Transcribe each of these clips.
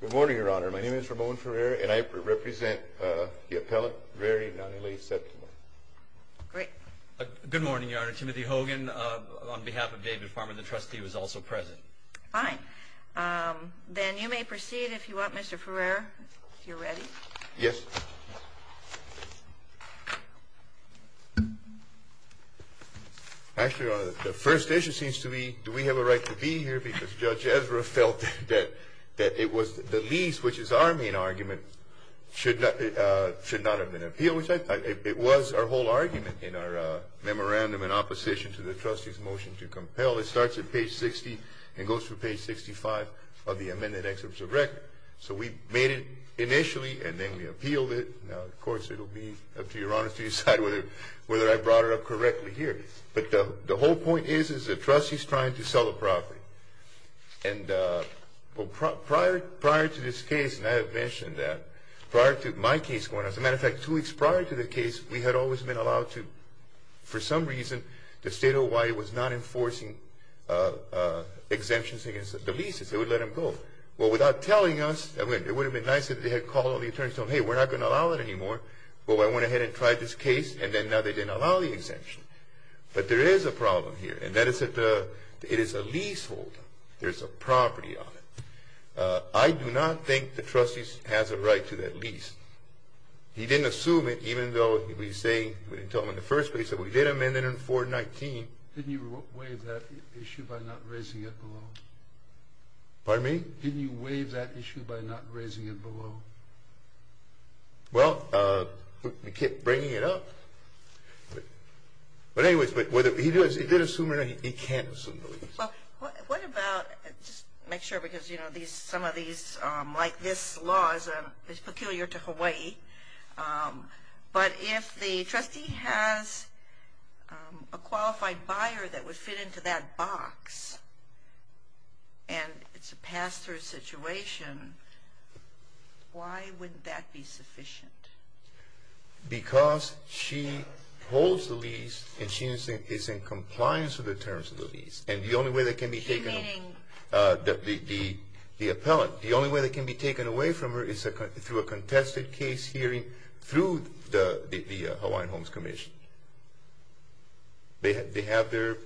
Good morning, Your Honor. My name is Ramon Ferrer and I represent the appellant, Reri Nani Reri Septimo. Great. Good morning, Your Honor. Timothy Hogan on behalf of David Farmer, the trustee, was also present. Fine. Then you may proceed if you want, Mr. Ferrer, if you're ready. Yes. Actually, Your Honor, the first issue seems to be do we have a right to be here because Judge Ezra felt that it was the least, which is our main argument, should not have been appealed. It was our whole argument in our memorandum in opposition to the trustee's motion to compel. First of all, it starts at page 60 and goes through page 65 of the amended excerpts of record. So we made it initially and then we appealed it. Now, of course, it will be up to Your Honor to decide whether I brought it up correctly here. But the whole point is, is the trustee's trying to sell the property. And prior to this case, and I have mentioned that, prior to my case going, as a matter of fact, two weeks prior to the case, we had always been allowed to. For some reason, the state of Hawaii was not enforcing exemptions against the leases. They would let them go. Well, without telling us, it would have been nice if they had called all the attorneys and told them, hey, we're not going to allow it anymore. Well, I went ahead and tried this case, and then now they didn't allow the exemption. But there is a problem here, and that is that it is a leaseholder. There's a property on it. He didn't assume it, even though we didn't tell him in the first place that we did amend it in 419. Didn't you waive that issue by not raising it below? Pardon me? Didn't you waive that issue by not raising it below? Well, we kept bringing it up. But anyways, whether he did assume it or not, he can't assume the lease. Well, what about, just to make sure, because, you know, some of these, like this law is peculiar to Hawaii. But if the trustee has a qualified buyer that would fit into that box, and it's a pass-through situation, why wouldn't that be sufficient? Because she holds the lease, and she is in compliance with the terms of the lease. And the only way that can be taken away from her is through a contested case hearing through the Hawaiian Homes Commission. They have their,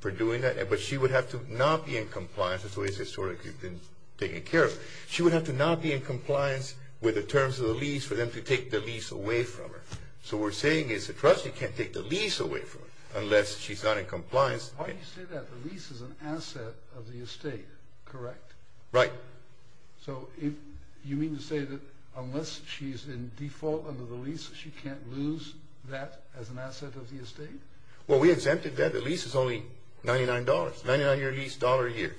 for doing that. But she would have to not be in compliance. That's the way it's historically been taken care of. She would have to not be in compliance with the terms of the lease for them to take the lease away from her. So what we're saying is the trustee can't take the lease away from her unless she's not in compliance. Why do you say that? The lease is an asset of the estate, correct? Right. So you mean to say that unless she's in default under the lease, she can't lose that as an asset of the estate? Well, we exempted that. The lease is only $99. Ninety-nine-year lease, dollar a year.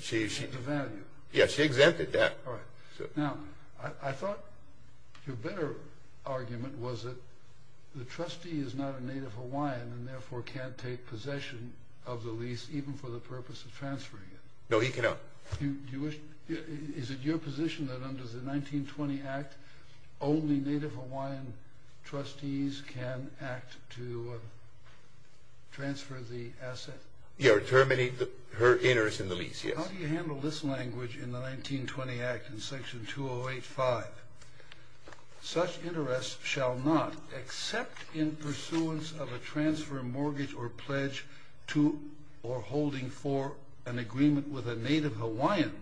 She took the value. Yeah, she exempted that. All right. Now, I thought your better argument was that the trustee is not a Native Hawaiian and therefore can't take possession of the lease even for the purpose of transferring it. No, he cannot. Is it your position that under the 1920 Act, only Native Hawaiian trustees can act to transfer the asset? Yeah, or terminate her interest in the lease, yes. How do you handle this language in the 1920 Act in Section 208-5? Such interest shall not, except in pursuance of a transfer, mortgage, or pledge to or holding for an agreement with a Native Hawaiian,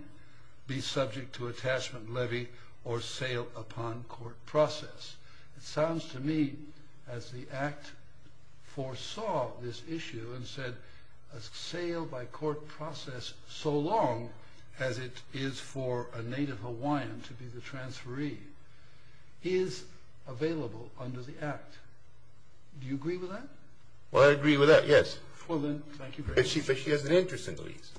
be subject to attachment, levy, or sale upon court process. It sounds to me as the Act foresaw this issue and said a sale by court process so long as it is for a Native Hawaiian to be the transferee is available under the Act. Do you agree with that? Well, I agree with that, yes. Well, then, thank you very much. But she has an interest in the lease.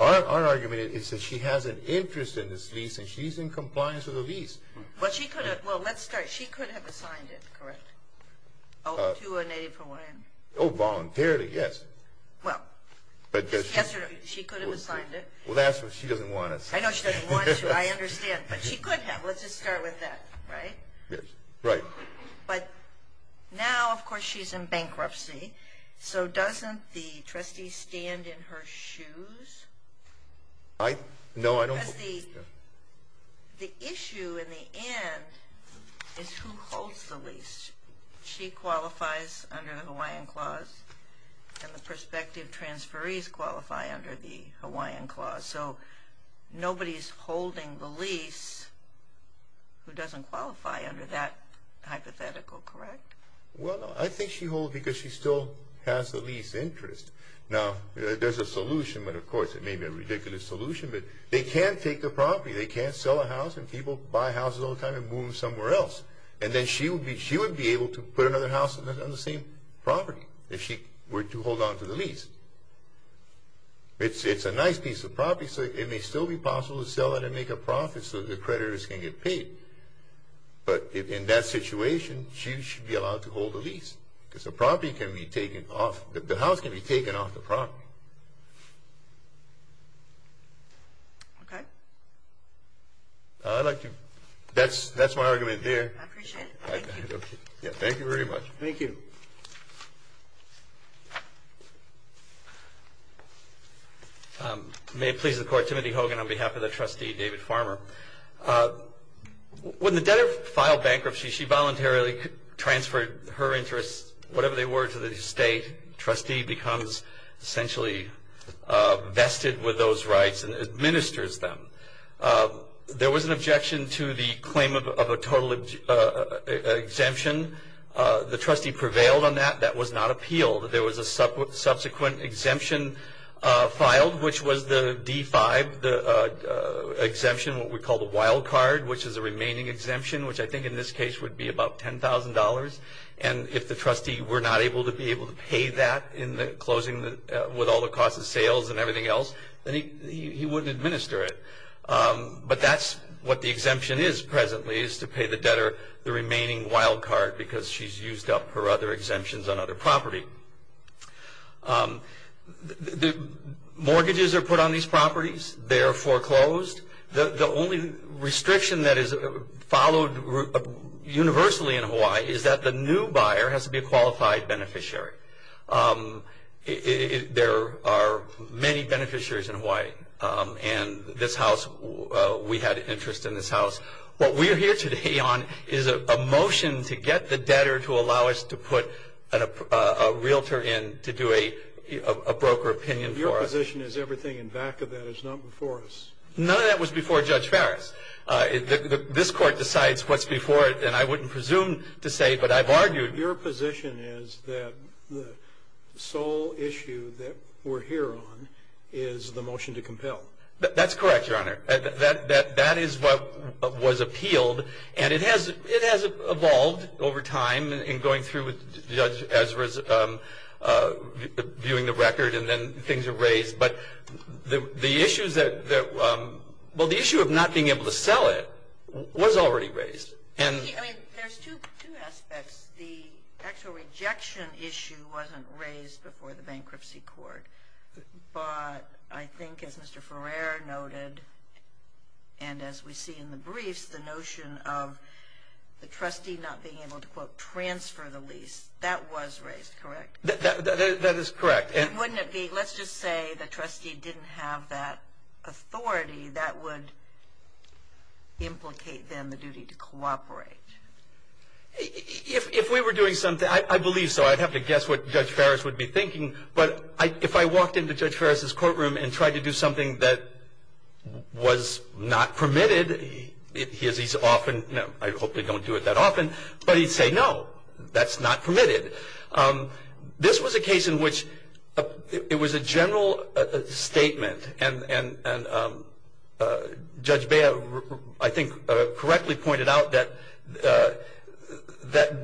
Our argument is that she has an interest in this lease and she's in compliance with the lease. Well, let's start. She could have assigned it, correct, to a Native Hawaiian. Oh, voluntarily, yes. Well, she could have assigned it. Well, that's what she doesn't want us to do. I know she doesn't want us to. I understand. But she could have. Let's just start with that, right? Yes, right. But now, of course, she's in bankruptcy, so doesn't the trustee stand in her shoes? No, I don't believe so. Because the issue in the end is who holds the lease. She qualifies under the Hawaiian Clause, and the prospective transferees qualify under the Hawaiian Clause. So nobody's holding the lease who doesn't qualify under that hypothetical, correct? Well, no, I think she holds because she still has the lease interest. Now, there's a solution, but of course it may be a ridiculous solution. But they can't take the property. They can't sell a house, and people buy houses all the time and move them somewhere else. And then she would be able to put another house on the same property if she were to hold on to the lease. It's a nice piece of property, so it may still be possible to sell it and make a profit so the creditors can get paid. But in that situation, she should be allowed to hold the lease, because the house can be taken off the property. Okay. That's my argument there. I appreciate it. Thank you very much. Thank you. May it please the Court, Timothy Hogan on behalf of the trustee, David Farmer. When the debtor filed bankruptcy, she voluntarily transferred her interest, whatever they were, to the state. The trustee becomes essentially vested with those rights and administers them. There was an objection to the claim of a total exemption. The trustee prevailed on that. That was not appealed. There was a subsequent exemption filed, which was the D-5 exemption, what we call the wild card, which is a remaining exemption, which I think in this case would be about $10,000. And if the trustee were not able to be able to pay that in closing with all the costs of sales and everything else, then he wouldn't administer it. But that's what the exemption is presently, is to pay the debtor the remaining wild card, because she's used up her other exemptions on other property. Mortgages are put on these properties. They are foreclosed. The only restriction that is followed universally in Hawaii is that the new buyer has to be a qualified beneficiary. There are many beneficiaries in Hawaii, and this house, we had interest in this house. What we are here today on is a motion to get the debtor to allow us to put a realtor in to do a broker opinion for us. Your position is everything in back of that is not before us. None of that was before Judge Farris. This Court decides what's before it, and I wouldn't presume to say, but I've argued. Your position is that the sole issue that we're here on is the motion to compel. That's correct, Your Honor. That is what was appealed, and it has evolved over time in going through with Judge Ezra's viewing the record, and then things are raised. But the issue of not being able to sell it was already raised. There's two aspects. The actual rejection issue wasn't raised before the bankruptcy court. But I think, as Mr. Ferrer noted, and as we see in the briefs, the notion of the trustee not being able to, quote, transfer the lease, that was raised, correct? That is correct. Wouldn't it be, let's just say the trustee didn't have that authority, that would implicate then the duty to cooperate? If we were doing something, I believe so. I'd have to guess what Judge Farris would be thinking. But if I walked into Judge Farris's courtroom and tried to do something that was not permitted, he's often, I hope they don't do it that often, but he'd say, no, that's not permitted. This was a case in which it was a general statement, and Judge Bea, I think, correctly pointed out that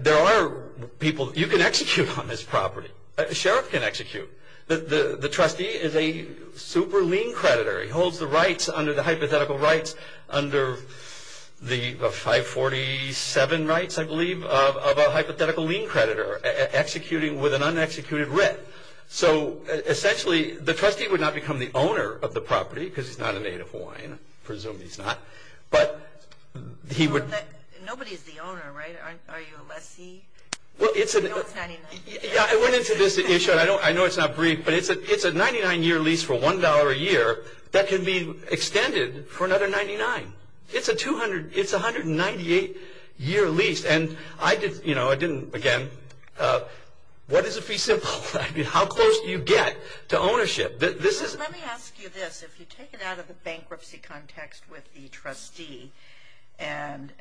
there are people you can execute on this property. A sheriff can execute. The trustee is a super lien creditor. He holds the rights under the hypothetical rights under the 547 rights, I believe, of a hypothetical lien creditor, executing with an unexecuted writ. So, essentially, the trustee would not become the owner of the property because he's not a native Hawaiian. I presume he's not. But he would. Nobody is the owner, right? Are you a lessee? I know it's 99 years. Yeah, I went into this issue, and I know it's not brief, but it's a 99-year lease for $1 a year that can be extended for another 99. It's a 198-year lease, and I didn't, again, what is a fee simple? I mean, how close do you get to ownership? Let me ask you this. If you take it out of the bankruptcy context with the trustee and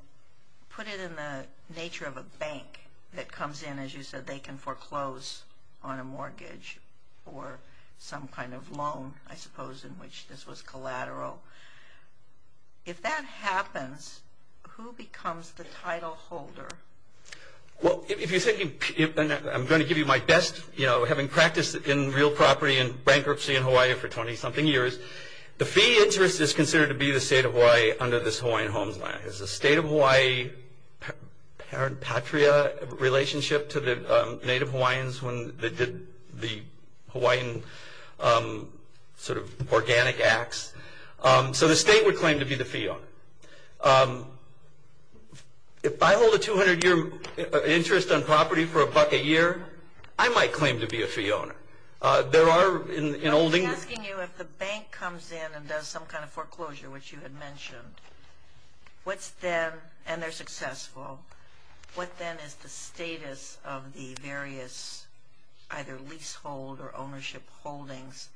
put it in the nature of a bank that comes in, as you said, they can foreclose on a mortgage or some kind of loan, I suppose, in which this was collateral. If that happens, who becomes the title holder? Well, if you're thinking, I'm going to give you my best, you know, having practiced in real property and bankruptcy in Hawaii for 20-something years, the fee interest is considered to be the state of Hawaii under this Hawaiian Homes Act. It's the state of Hawaii parent patria relationship to the native Hawaiians when they did the Hawaiian sort of organic acts. So the state would claim to be the fee owner. If I hold a 200-year interest on property for a buck a year, I might claim to be a fee owner. There are in olden days. I was asking you if the bank comes in and does some kind of foreclosure, which you had mentioned, what's then, and they're successful, what then is the status of the various either leasehold or ownership holdings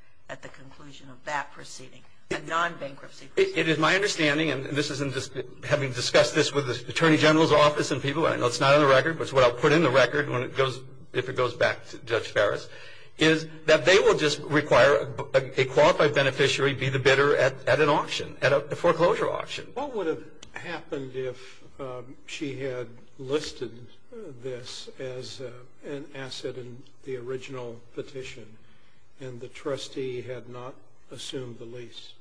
It is my understanding, and this isn't just having discussed this with the Attorney General's office and people, I know it's not on the record, but it's what I'll put in the record when it goes, if it goes back to Judge Ferris, is that they will just require a qualified beneficiary be the bidder at an auction, at a foreclosure auction. What would have happened if she had listed this as an asset in the original petition and the trustee had not assumed the lease?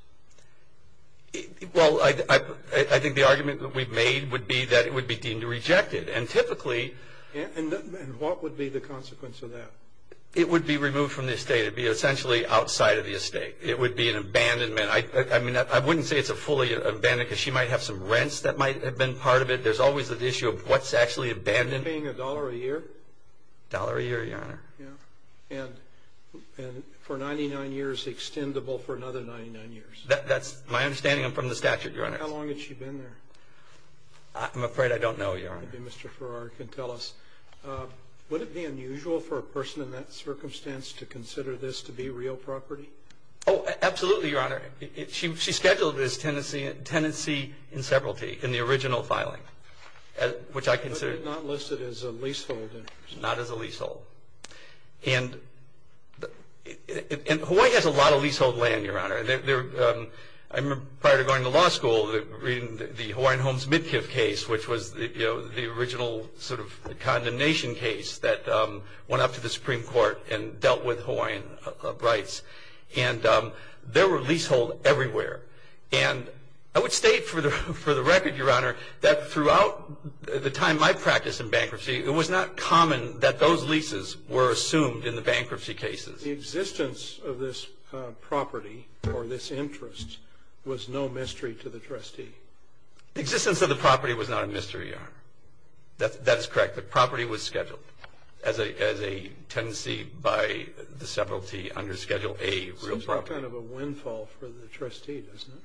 Well, I think the argument that we've made would be that it would be deemed rejected. And typically... And what would be the consequence of that? It would be removed from the estate. It would be essentially outside of the estate. It would be an abandonment. I mean, I wouldn't say it's a fully abandoned, because she might have some rents that might have been part of it. There's always the issue of what's actually abandoned. Paying a dollar a year? A dollar a year, Your Honor. Yeah. And for 99 years, extendable for another 99 years. That's my understanding from the statute, Your Honor. How long has she been there? I'm afraid I don't know, Your Honor. Maybe Mr. Farrar can tell us. Would it be unusual for a person in that circumstance to consider this to be real property? Oh, absolutely, Your Honor. She scheduled it as tenancy in severalty in the original filing, which I consider... But not listed as a leasehold? Not as a leasehold. And Hawaii has a lot of leasehold land, Your Honor. I remember prior to going to law school, reading the Hawaiian Homes Midkiff case, which was the original sort of condemnation case that went up to the Supreme Court and dealt with Hawaiian rights. And there were leaseholds everywhere. And I would state for the record, Your Honor, that throughout the time I practiced in bankruptcy, it was not common that those leases were assumed in the bankruptcy cases. The existence of this property or this interest was no mystery to the trustee? The existence of the property was not a mystery, Your Honor. That is correct. The property was scheduled as a tenancy by the severalty under Schedule A, real property. That's kind of a windfall for the trustee, isn't it?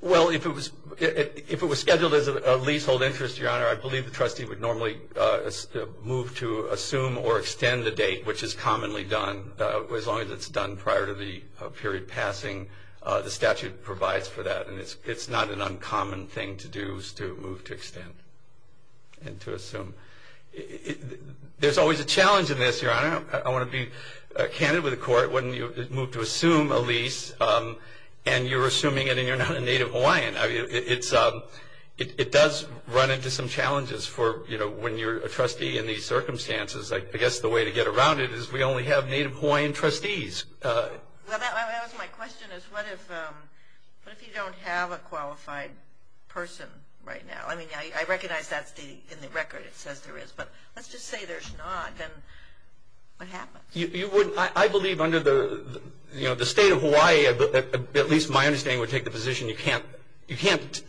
Well, if it was scheduled as a leasehold interest, Your Honor, I believe the trustee would normally move to assume or extend the date, which is commonly done. As long as it's done prior to the period passing, the statute provides for that. And it's not an uncommon thing to do is to move to extend and to assume. There's always a challenge in this, Your Honor. I want to be candid with the Court. When you move to assume a lease and you're assuming it and you're not a Native Hawaiian, it does run into some challenges for, you know, when you're a trustee in these circumstances. I guess the way to get around it is we only have Native Hawaiian trustees. My question is what if you don't have a qualified person right now? I mean, I recognize that's in the record. It says there is. But let's just say there's not, then what happens? I believe under the State of Hawaii, at least my understanding would take the position you can't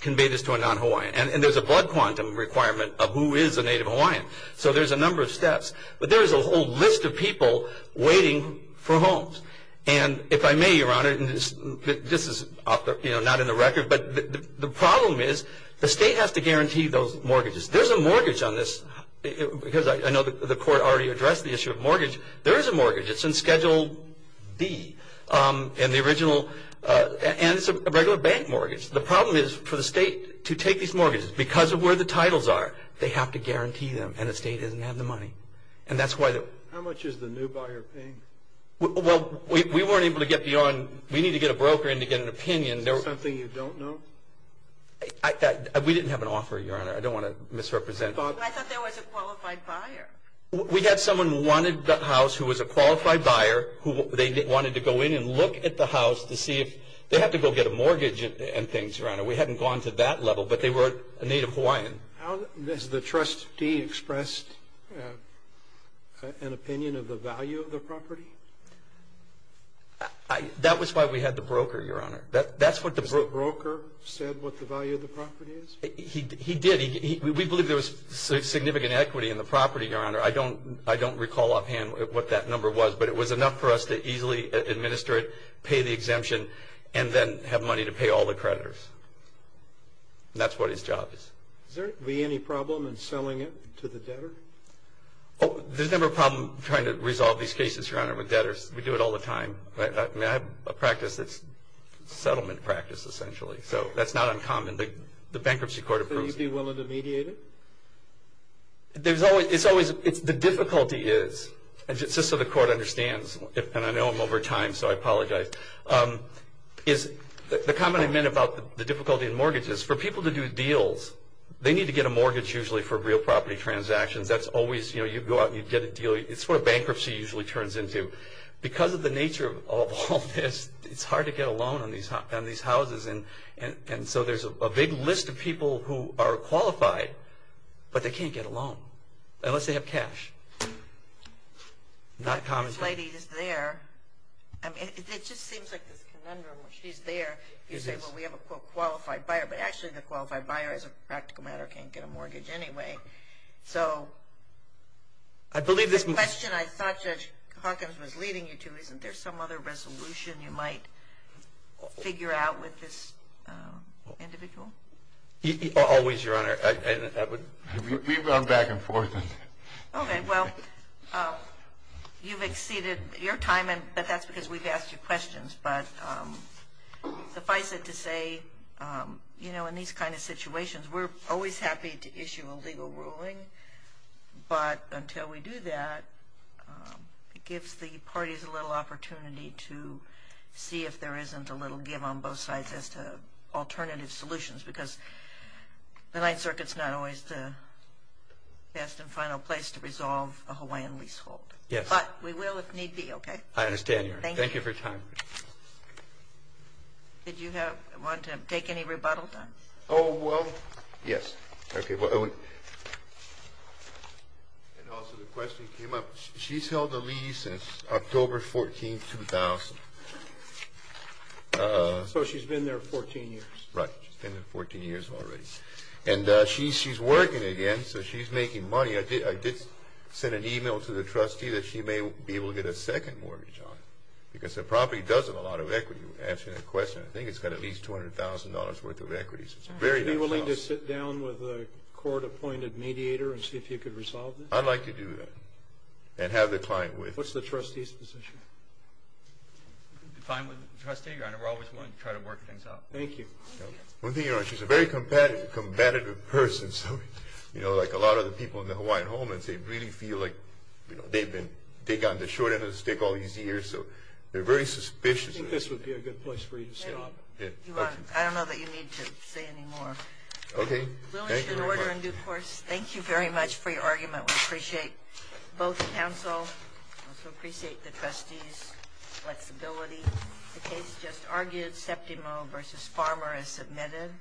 convey this to a non-Hawaiian. And there's a blood quantum requirement of who is a Native Hawaiian. So there's a number of steps. But there is a whole list of people waiting for homes. And if I may, Your Honor, and this is not in the record, but the problem is the state has to guarantee those mortgages. There's a mortgage on this because I know the court already addressed the issue of mortgage. There is a mortgage. It's in Schedule B in the original. And it's a regular bank mortgage. The problem is for the state to take these mortgages because of where the titles are, they have to guarantee them, and the state doesn't have the money. And that's why the ---- How much is the new buyer paying? Well, we weren't able to get beyond. We need to get a broker in to get an opinion. Is that something you don't know? We didn't have an offer, Your Honor. I don't want to misrepresent. I thought there was a qualified buyer. We had someone who wanted the house who was a qualified buyer who they wanted to go in and look at the house to see if they have to go get a mortgage and things, Your Honor. We hadn't gone to that level, but they were a Native Hawaiian. Has the trustee expressed an opinion of the value of the property? That was why we had the broker, Your Honor. That's what the broker said what the value of the property is. He did. We believe there was significant equity in the property, Your Honor. I don't recall offhand what that number was, but it was enough for us to easily administer it, pay the exemption, and then have money to pay all the creditors. And that's what his job is. Is there any problem in selling it to the debtor? There's never a problem trying to resolve these cases, Your Honor, with debtors. We do it all the time. I have a practice that's settlement practice, essentially. So that's not uncommon. The bankruptcy court approves it. So you'd be willing to mediate it? The difficulty is, just so the court understands, and I know I'm over time, so I apologize, is the comment I made about the difficulty in mortgages, for people to do deals, they need to get a mortgage usually for real property transactions. You go out and you get a deal. It's what a bankruptcy usually turns into. Because of the nature of all this, it's hard to get a loan on these houses, and so there's a big list of people who are qualified, but they can't get a loan, unless they have cash. Not common sense. This lady is there. It just seems like this conundrum. She's there. You say, well, we have a, quote, qualified buyer, but actually the qualified buyer, as a practical matter, can't get a mortgage anyway. So the question I thought Judge Hawkins was leading you to, isn't there some other resolution you might figure out with this individual? Always, Your Honor. We've gone back and forth. Okay. Well, you've exceeded your time, but that's because we've asked you questions. But suffice it to say, you know, in these kind of situations, we're always happy to issue a legal ruling. But until we do that, it gives the parties a little opportunity to see if there isn't a little give on both sides as to alternative solutions, because the Ninth Circuit's not always the best and final place to resolve a Hawaiian leasehold. Yes. But we will if need be. Okay? I understand, Your Honor. Thank you for your time. Did you want to take any rebuttal? Oh, well, yes. Okay. And also the question came up. She's held a lease since October 14, 2000. So she's been there 14 years. Right. She's been there 14 years already. And she's working again, so she's making money. I did send an email to the trustee that she may be able to get a second mortgage on it, because the property doesn't have a lot of equity, answering that question. I think it's got at least $200,000 worth of equity. It's a very nice house. Are you willing to sit down with a court-appointed mediator and see if you could resolve this? I'd like to do that and have the client with me. What's the trustee's position? Fine with the trustee, Your Honor. We're always willing to try to work things out. Thank you. One thing, Your Honor, she's a very competitive person. So, you know, like a lot of the people in the Hawaiian homelands, they really feel like they've gotten the short end of the stick all these years. So they're very suspicious. I think this would be a good place for you to stop. I don't know that you need to say any more. Okay. Thank you very much. We'll issue an order in due course. Thank you very much for your argument. We appreciate both counsel. We also appreciate the trustees' flexibility. The case just argued, Septimo v. Farmer, as submitted.